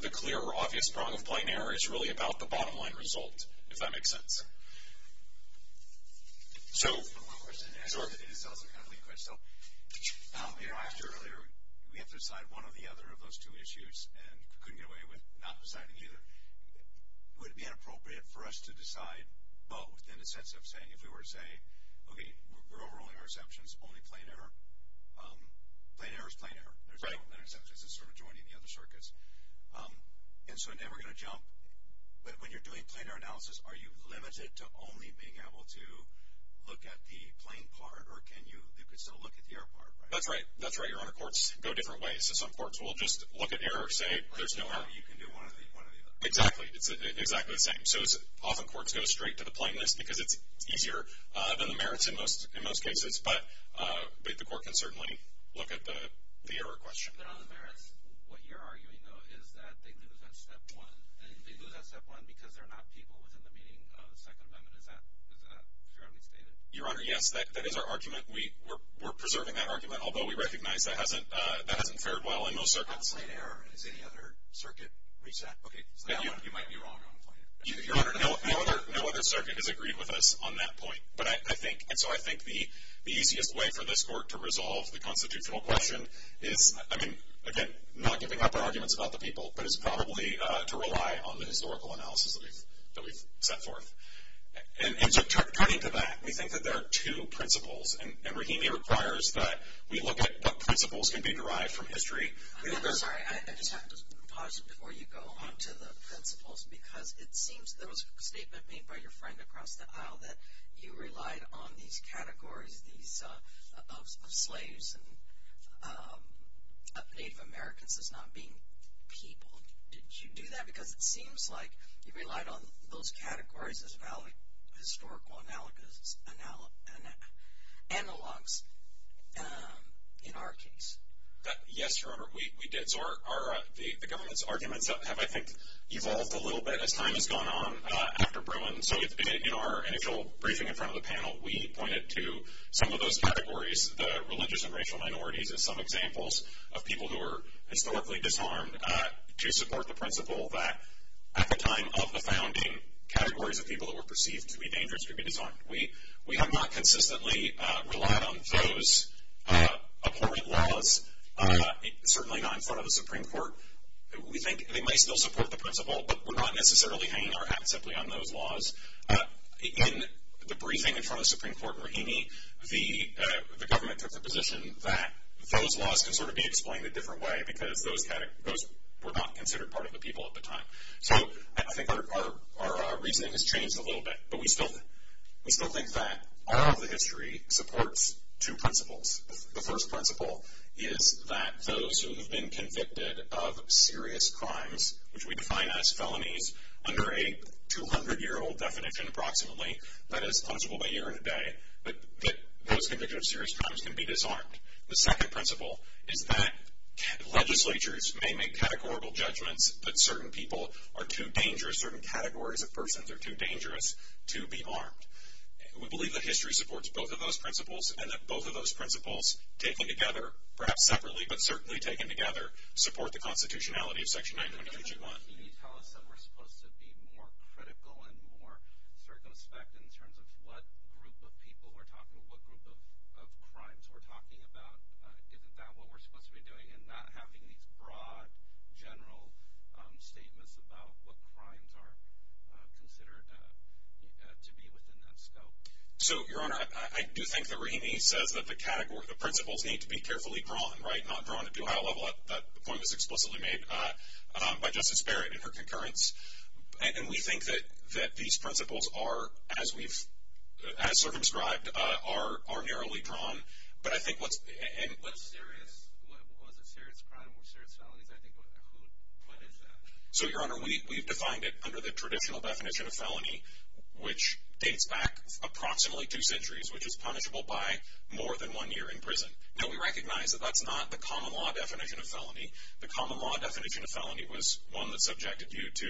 the clear or obvious prong of plain error is really about the bottom line result, if that makes sense. So— I have one question. These cells are kind of liquid. So, you know, I asked you earlier, we have to decide one or the other of those two issues, and we couldn't get away with not deciding either. Would it be inappropriate for us to decide both in the sense of saying if we were to say, okay, we're overruling our exceptions, only plain error. Plain error is plain error. There's no exceptions. It's sort of joining the other circuits. And so now we're going to jump. When you're doing plain error analysis, are you limited to only being able to look at the plain part, or can you—you can still look at the error part, right? That's right. That's right, Your Honor. Courts go different ways. In some cases, some courts will just look at error and say there's no error. Or you can do one or the other. Exactly. It's exactly the same. So often courts go straight to the plainness because it's easier than the merits in most cases. But the court can certainly look at the error question. But on the merits, what you're arguing, though, is that they lose on step one. And they lose on step one because they're not people within the meaning of the Second Amendment. Is that fairly stated? Your Honor, yes, that is our argument. We're preserving that argument. Although we recognize that hasn't fared well in most circuits. On plain error, has any other circuit reached that? You might be wrong on plain error. Your Honor, no other circuit has agreed with us on that point. And so I think the easiest way for this court to resolve the constitutional question is, I mean, again, not giving up our arguments about the people, but it's probably to rely on the historical analysis that we've set forth. And so turning to that, we think that there are two principles. And Rahimi requires that we look at what principles can be derived from history. I'm sorry. I just have to pause before you go on to the principles because it seems there was a statement made by your friend across the aisle that you relied on these categories of slaves and Native Americans as not being people. Did you do that? Because it seems like you relied on those categories as historical analogs in our case. Yes, Your Honor, we did. So the government's arguments have, I think, evolved a little bit as time has gone on after Bruin. So in our initial briefing in front of the panel, we pointed to some of those categories, the religious and racial minorities as some examples of people who were historically disarmed, to support the principle that at the time of the founding, categories of people that were perceived to be dangerous could be disarmed. We have not consistently relied on those abhorrent laws, certainly not in front of the Supreme Court. We think they might still support the principle, but we're not necessarily hanging our hat simply on those laws. In the briefing in front of the Supreme Court in Raheny, the government took the position that those laws can sort of be explained a different way because those were not considered part of the people at the time. So I think our reasoning has changed a little bit, but we still think that all of the history supports two principles. The first principle is that those who have been convicted of serious crimes, which we define as felonies under a 200-year-old definition approximately, that is, possible by year and a day, that those convicted of serious crimes can be disarmed. The second principle is that legislatures may make categorical judgments that certain people are too dangerous, certain categories of persons are too dangerous to be armed. We believe that history supports both of those principles, and that both of those principles, taken together, perhaps separately, but certainly taken together, support the constitutionality of Section 920-321. Can you tell us that we're supposed to be more critical and more circumspect in terms of what group of people we're talking about, what group of crimes we're talking about? Isn't that what we're supposed to be doing, and not having these broad, general statements about what crimes are considered to be within that scope? So, Your Honor, I do think that Raheny says that the principles need to be carefully drawn, right, not drawn at too high a level. That point was explicitly made by Justice Barrett in her concurrence. And we think that these principles are, as circumscribed, are narrowly drawn. But I think what's serious, what was a serious crime or serious felonies, I think, what is that? So, Your Honor, we've defined it under the traditional definition of felony, which dates back approximately two centuries, which is punishable by more than one year in prison. Now, we recognize that that's not the common law definition of felony. The common law definition of felony was one that subjected you to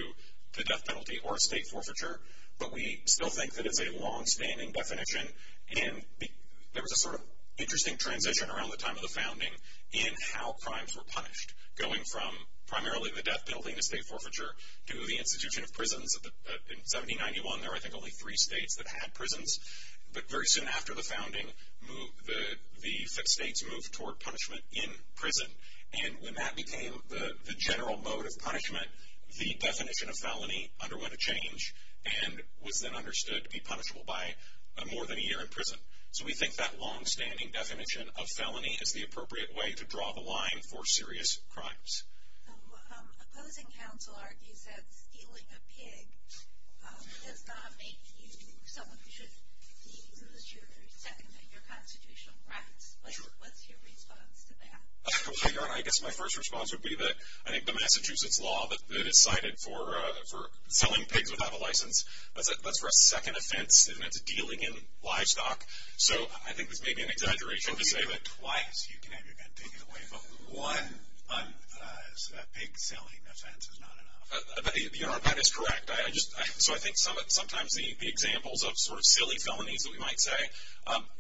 the death penalty or estate forfeiture. But we still think that it's a longstanding definition. And there was a sort of interesting transition around the time of the founding in how crimes were punished, going from primarily the death penalty and estate forfeiture to the institution of prisons. In 1791, there were, I think, only three states that had prisons. But very soon after the founding, the fifth states moved toward punishment in prison. And when that became the general mode of punishment, the definition of felony underwent a change and was then understood to be punishable by more than a year in prison. So we think that longstanding definition of felony is the appropriate way to draw the line for serious crimes. Opposing counsel argues that stealing a pig does not make you someone who should be sentenced to a year or two in your constitutional practice. What's your response to that? I guess my first response would be that I think the Massachusetts law that is cited for selling pigs without a license, that's for a second offense, and it's dealing in livestock. So I think this may be an exaggeration to say that twice you can have your bed taken away from you. One, a pig selling offense is not an offense. That is correct. So I think sometimes the examples of sort of silly felonies that we might say,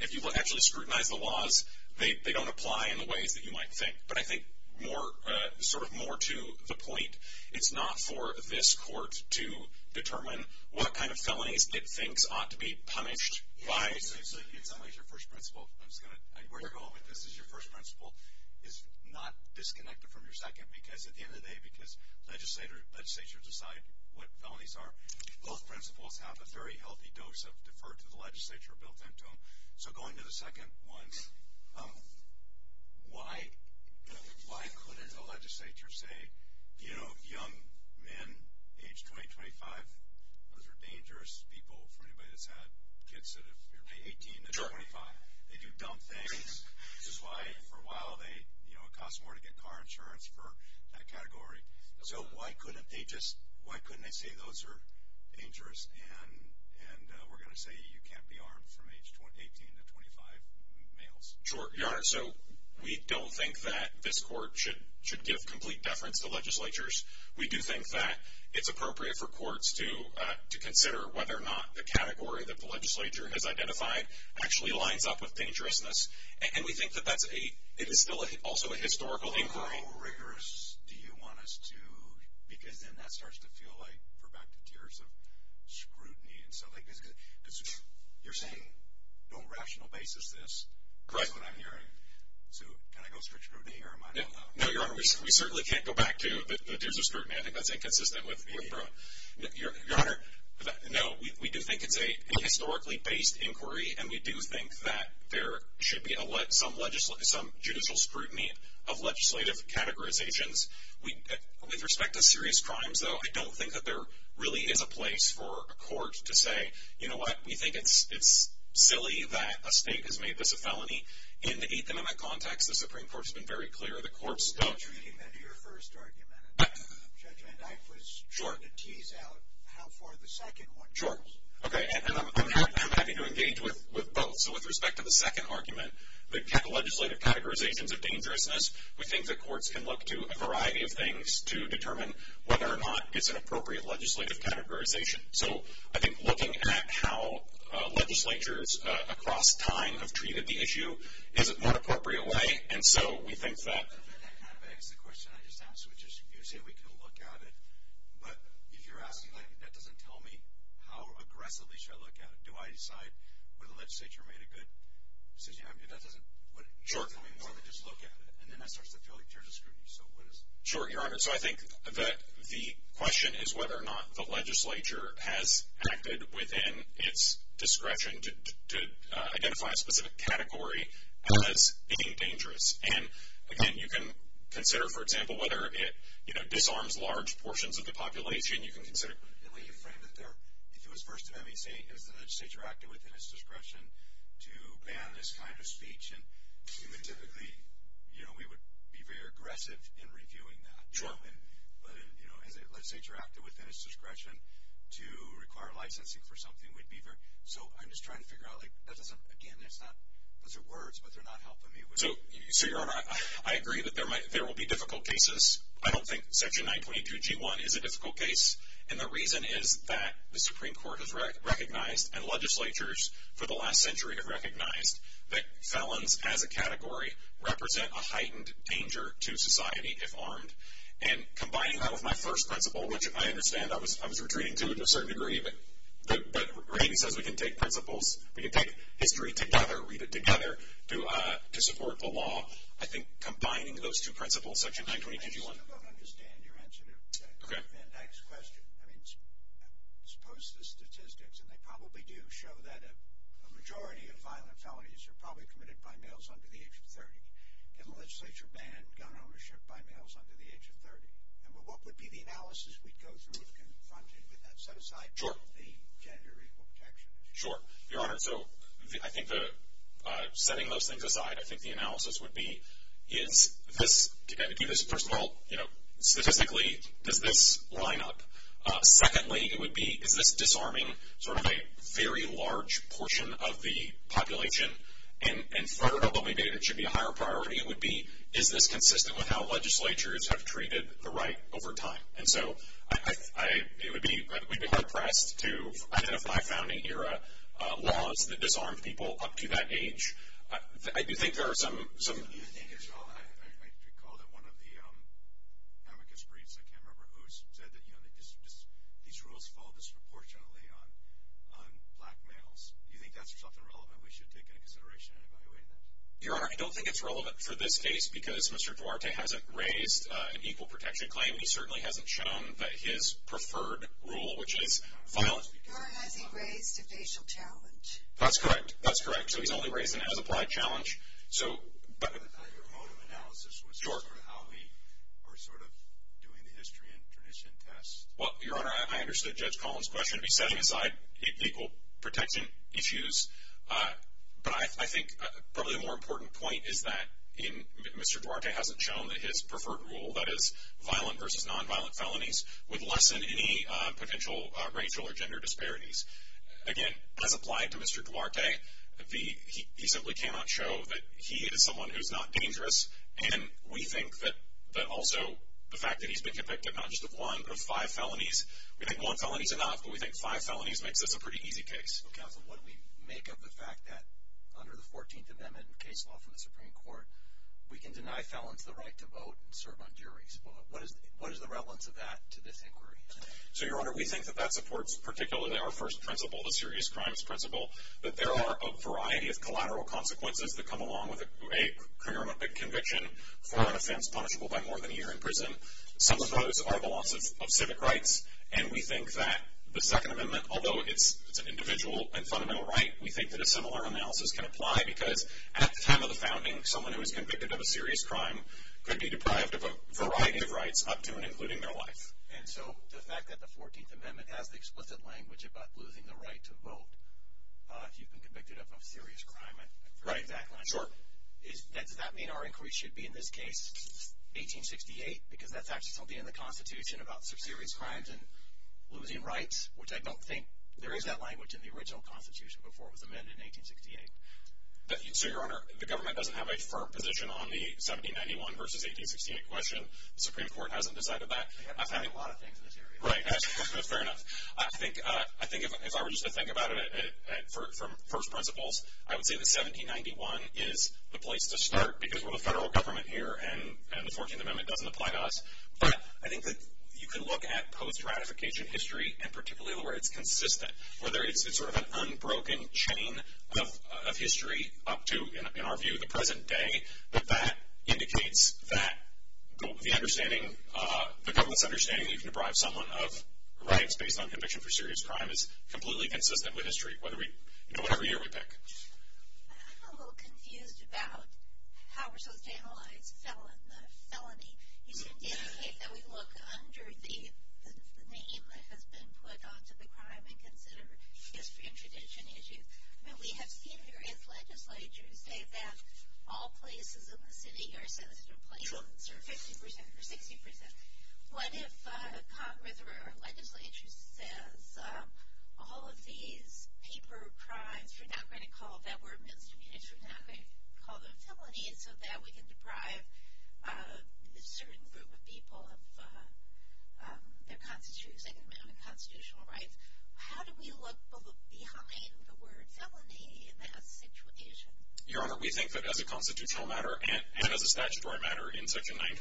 if you actually scrutinize the laws, they don't apply in the ways that you might think. But I think sort of more to the point, it's not for this court to determine what kind of felonies it thinks ought to be punished by. So in some ways your first principle, where you're going with this is your first principle is not disconnected from your second, because at the end of the day, because legislatures decide what felonies are, both principles have a very healthy dose of deferred to the legislature built into them. So going to the second one, why couldn't a legislature say, you know, young men, age 20, 25, those are dangerous people for anybody that's had kids that are 18 to 25. They do dumb things, which is why for a while they, you know, it costs more to get car insurance for that category. So why couldn't they just, why couldn't they say those are dangerous, and we're going to say you can't be armed from age 18 to 25 males? Sure. Your Honor, so we don't think that this court should give complete deference to legislatures. We do think that it's appropriate for courts to consider whether or not the category that the legislature has identified actually lines up with dangerousness, and we think that that's a, it is still also a historical inquiry. How rigorous do you want us to, because then that starts to feel like, we're back to tiers of scrutiny and stuff like this, because you're saying, don't rational basis this. Correct. That's what I'm hearing. So can I go strict scrutiny here or am I not allowed? No, Your Honor, we certainly can't go back to the tiers of scrutiny. I think that's inconsistent with the approach. Your Honor, no, we do think it's a historically based inquiry, and we do think that there should be some judicial scrutiny of legislative categorizations. With respect to serious crimes, though, I don't think that there really is a place for a court to say, you know what, we think it's silly that a state has made this a felony. In the Eighth Amendment context, the Supreme Court has been very clear. The courts don't. In your first argument, Judge Van Dyke was trying to tease out how far the second one goes. Sure. Okay, and I'm happy to engage with both. So with respect to the second argument, the legislative categorizations of dangerousness, we think that courts can look to a variety of things to determine whether or not it's an appropriate legislative categorization. So I think looking at how legislatures across time have treated the issue is an inappropriate way, and so we think that. That kind of begs the question I just asked, which is you say we can look at it, but if you're asking, like, that doesn't tell me how aggressively should I look at it. Do I decide whether the legislature made a good decision? That doesn't tell me more than just look at it. And then that starts to feel like tiers of scrutiny. Sure, Your Honor, so I think that the question is whether or not the legislature has acted within its discretion to identify a specific category as being dangerous. And, again, you can consider, for example, whether it, you know, disarms large portions of the population. You can consider it the way you framed it there. If it was First Amendment, say, is the legislature acting within its discretion to ban this kind of speech? And typically, you know, we would be very aggressive in reviewing that. But, you know, has the legislature acted within its discretion to require licensing for something? So I'm just trying to figure out, like, again, those are words, but they're not helping me. So, Your Honor, I agree that there will be difficult cases. I don't think Section 922G1 is a difficult case, and the reason is that the Supreme Court has recognized and legislatures for the last century have recognized that felons as a category represent a heightened danger to society if armed. And combining that with my first principle, which I understand I was retreating to a certain degree, but Randy says we can take principles, we can take history together, read it together, to support the law. I think combining those two principles, Section 922G1... I still don't understand your answer to Van Dyck's question. I mean, suppose the statistics, and they probably do show that a majority of violent felonies are probably committed by males under the age of 30. Can the legislature ban gun ownership by males under the age of 30? And what would be the analysis we'd go through if confronted with that, set aside from the gender equal protection issue? Sure, Your Honor. So I think setting those things aside, I think the analysis would be, to kind of do this first of all, statistically, does this line up? Secondly, it would be, is this disarming sort of a very large portion of the population? And third, although maybe it should be a higher priority, it would be, is this consistent with how legislatures have treated the right over time? And so it would be hard-pressed to identify founding-era laws that disarmed people up to that age. I do think there are some... You think as well, I recall that one of the amicus briefs, I can't remember who, said that these rules fall disproportionately on black males. Do you think that's something relevant we should take into consideration and evaluate? Your Honor, I don't think it's relevant for this case because Mr. Duarte hasn't raised an equal protection claim, and he certainly hasn't shown that his preferred rule, which is violent... Your Honor, has he raised a facial challenge? That's correct. That's correct. So he's only raised an as-applied challenge. Your motive analysis was sort of how we are sort of doing the history and tradition test. Well, Your Honor, I understood Judge Collins' question. He's setting aside equal protection issues, but I think probably a more important point is that Mr. Duarte hasn't shown that his preferred rule, that is violent versus nonviolent felonies, would lessen any potential racial or gender disparities. Again, as applied to Mr. Duarte, he simply cannot show that he is someone who is not dangerous, and we think that also the fact that he's been convicted not just of one but of five felonies, we think one felony is enough, but we think five felonies makes this a pretty easy case. Counsel, what do we make of the fact that under the 14th Amendment case law from the Supreme Court, we can deny felons the right to vote and serve on juries? What is the relevance of that to this inquiry? So, Your Honor, we think that that supports particularly our first principle, the serious crimes principle, that there are a variety of collateral consequences that come along with a criminal conviction for an offense punishable by more than a year in prison. Some of those are the loss of civic rights, and we think that the Second Amendment, although it's an individual and fundamental right, we think that a similar analysis can apply because at the time of the founding, someone who was convicted of a serious crime could be deprived of a variety of rights up to and including their life. And so the fact that the 14th Amendment has the explicit language about losing the right to vote if you've been convicted of a serious crime, I'd prefer that. Right. Sure. Does that mean our inquiry should be in this case 1868? Because that's actually something in the Constitution about serious crimes and losing rights, which I don't think there is that language in the original Constitution before it was amended in 1868. So, Your Honor, the government doesn't have a firm position on the 1791 versus 1868 question. The Supreme Court hasn't decided that. They haven't decided a lot of things in this area. Right. That's fair enough. I think if I were just to think about it from first principles, I would say that 1791 is the place to start because we're the federal government here and the 14th Amendment doesn't apply to us. But I think that you can look at post-ratification history and particularly where it's consistent, where it's sort of an unbroken chain of history up to, in our view, the present day, but that indicates that the government's understanding that you can deprive someone of rights based on conviction for serious crime is completely consistent with history, whatever year we pick. I'm a little confused about how we're supposed to analyze the felony. It's indicated that we look under the name that has been put onto the crime and consider history and tradition issues. I mean, we have seen various legislatures say that all places in the city are sensitive places, or 50% or 60%. What if Congress or a legislature says all of these paper crimes, we're not going to call that word misdemeanors, we're not going to call them felonies, so that we can deprive a certain group of people of their constitutional rights. How do we look behind the words felony in that situation? Your Honor, we think that as a constitutional matter and as a statutory matter in Section 921,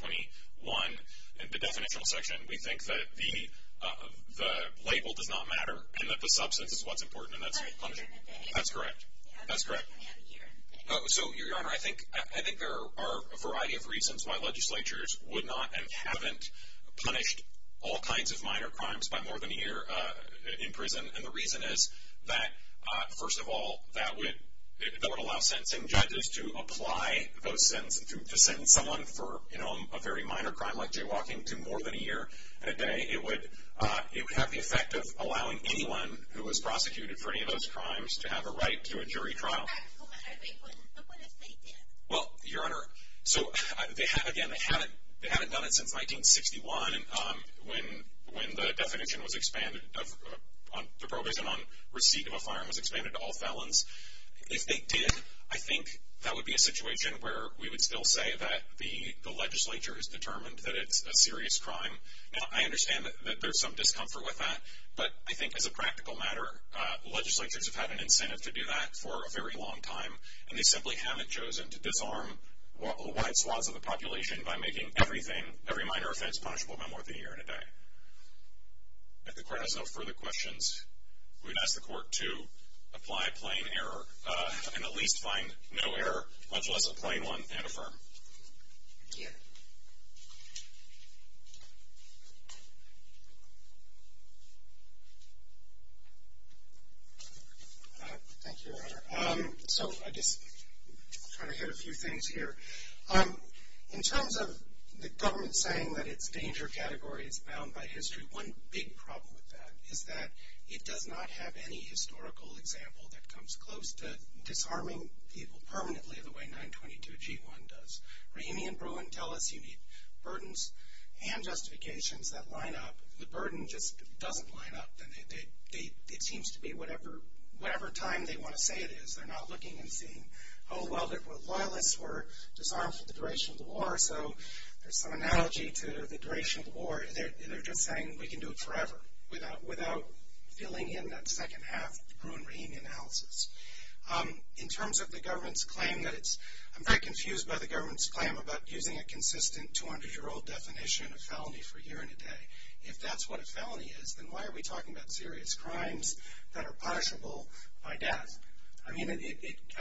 the definitional section, we think that the label does not matter and that the substance is what's important, and that's punishing. That's correct. That's correct. So, Your Honor, I think there are a variety of reasons why legislatures would not and haven't punished all kinds of minor crimes by more than a year in prison. And the reason is that, first of all, that would allow sentencing judges to apply those sentences, to sentence someone for a very minor crime like jaywalking to more than a year and a day. It would have the effect of allowing anyone who was prosecuted for any of those crimes to have a right to a jury trial. But what if they did? Well, Your Honor, again, they haven't done it since 1961 when the definition was expanded, the prohibition on receipt of a firearm was expanded to all felons. If they did, I think that would be a situation where we would still say that the legislature has determined that it's a serious crime. Now, I understand that there's some discomfort with that, but I think as a practical matter, legislatures have had an incentive to do that for a very long time, and they simply haven't chosen to disarm the white swaths of the population by making every minor offense punishable by more than a year and a day. If the Court has no further questions, we would ask the Court to apply plain error and at least find no error, much less a plain one, and affirm. Thank you, Your Honor. I just want to hit a few things here. In terms of the government saying that it's a danger category, it's bound by history, one big problem with that is that it does not have any historical example that comes close to disarming people permanently the way 922G1 does. Raimi and Bruin tell us you need burdens and justifications that line up. If the burden just doesn't line up, it seems to be whatever time they want to say it is, they're not looking and seeing, oh, well, the loyalists were disarmed for the duration of the war, so there's some analogy to the duration of the war. They're just saying we can do it forever without filling in that second half Bruin-Raimi analysis. In terms of the government's claim, I'm very confused by the government's claim about using a consistent 200-year-old definition of felony for a year and a day. If that's what a felony is, then why are we talking about serious crimes that are punishable by death? I mean, I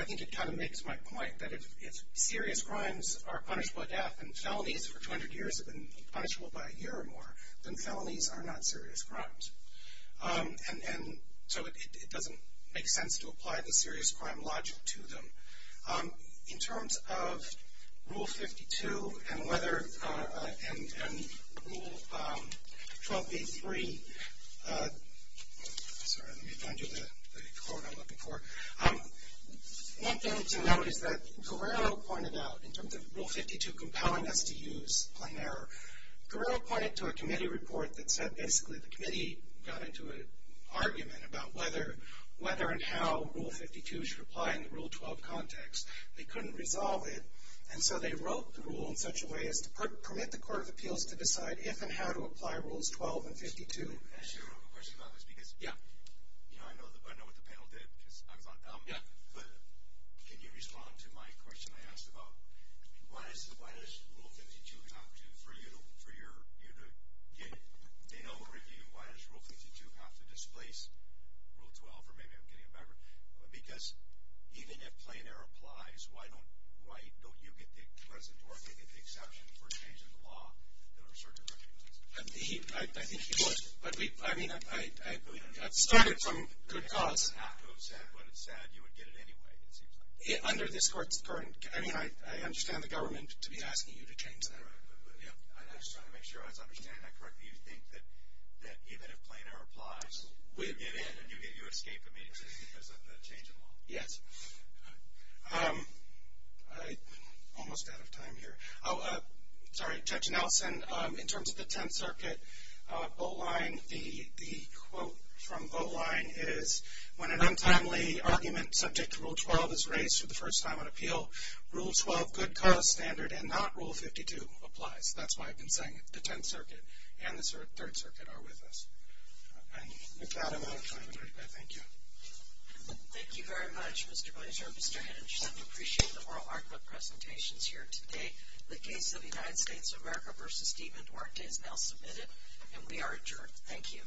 think it kind of makes my point that if serious crimes are punishable by death and felonies for 200 years have been punishable by a year or more, then felonies are not serious crimes. And so it doesn't make sense to apply the serious crime logic to them. In terms of Rule 52 and Rule 12b-3, sorry, let me find you the quote I'm looking for. One thing to note is that Guerrero pointed out, in terms of Rule 52 compelling us to use plain error, Guerrero pointed to a committee report that said basically the committee got into an argument about whether and how Rule 52 should apply in the Rule 12 context. They couldn't resolve it, and so they wrote the rule in such a way as to permit the Court of Appeals to decide if and how to apply Rules 12 and 52. Can I ask you a real quick question about this? Yeah. You know, I know what the panel did. Yeah. But can you respond to my question I asked about why does Rule 52 have to, for you to get a general review, why does Rule 52 have to displace Rule 12? Or maybe I'm getting it backwards. Because even if plain error applies, why don't you get the exception for changing the law that our circuit recognizes? He, I think he would. But we, I mean, I've started from good cause. After it's said what it said, you would get it anyway, it seems like. Under this Court's current, I mean, I understand the government to be asking you to change that. I'm just trying to make sure I was understanding that correctly. You think that even if plain error applies, you get in and you escape the meeting because of the change in law? Yes. I'm almost out of time here. Sorry, Judge Nelson, in terms of the Tenth Circuit vote line, the quote from vote line is, when an untimely argument subject to Rule 12 is raised for the first time on appeal, Rule 12, good cause standard, and not Rule 52, applies. That's why I've been saying it. The Tenth Circuit and the Third Circuit are with us. And with that, I'm out of time. Thank you. Thank you very much, Mr. Blaser. Mr. Henningerson, we appreciate the oral argument presentations here today. The case of the United States of America v. Stephen Duarte is now submitted, and we are adjourned. Thank you. Thank you.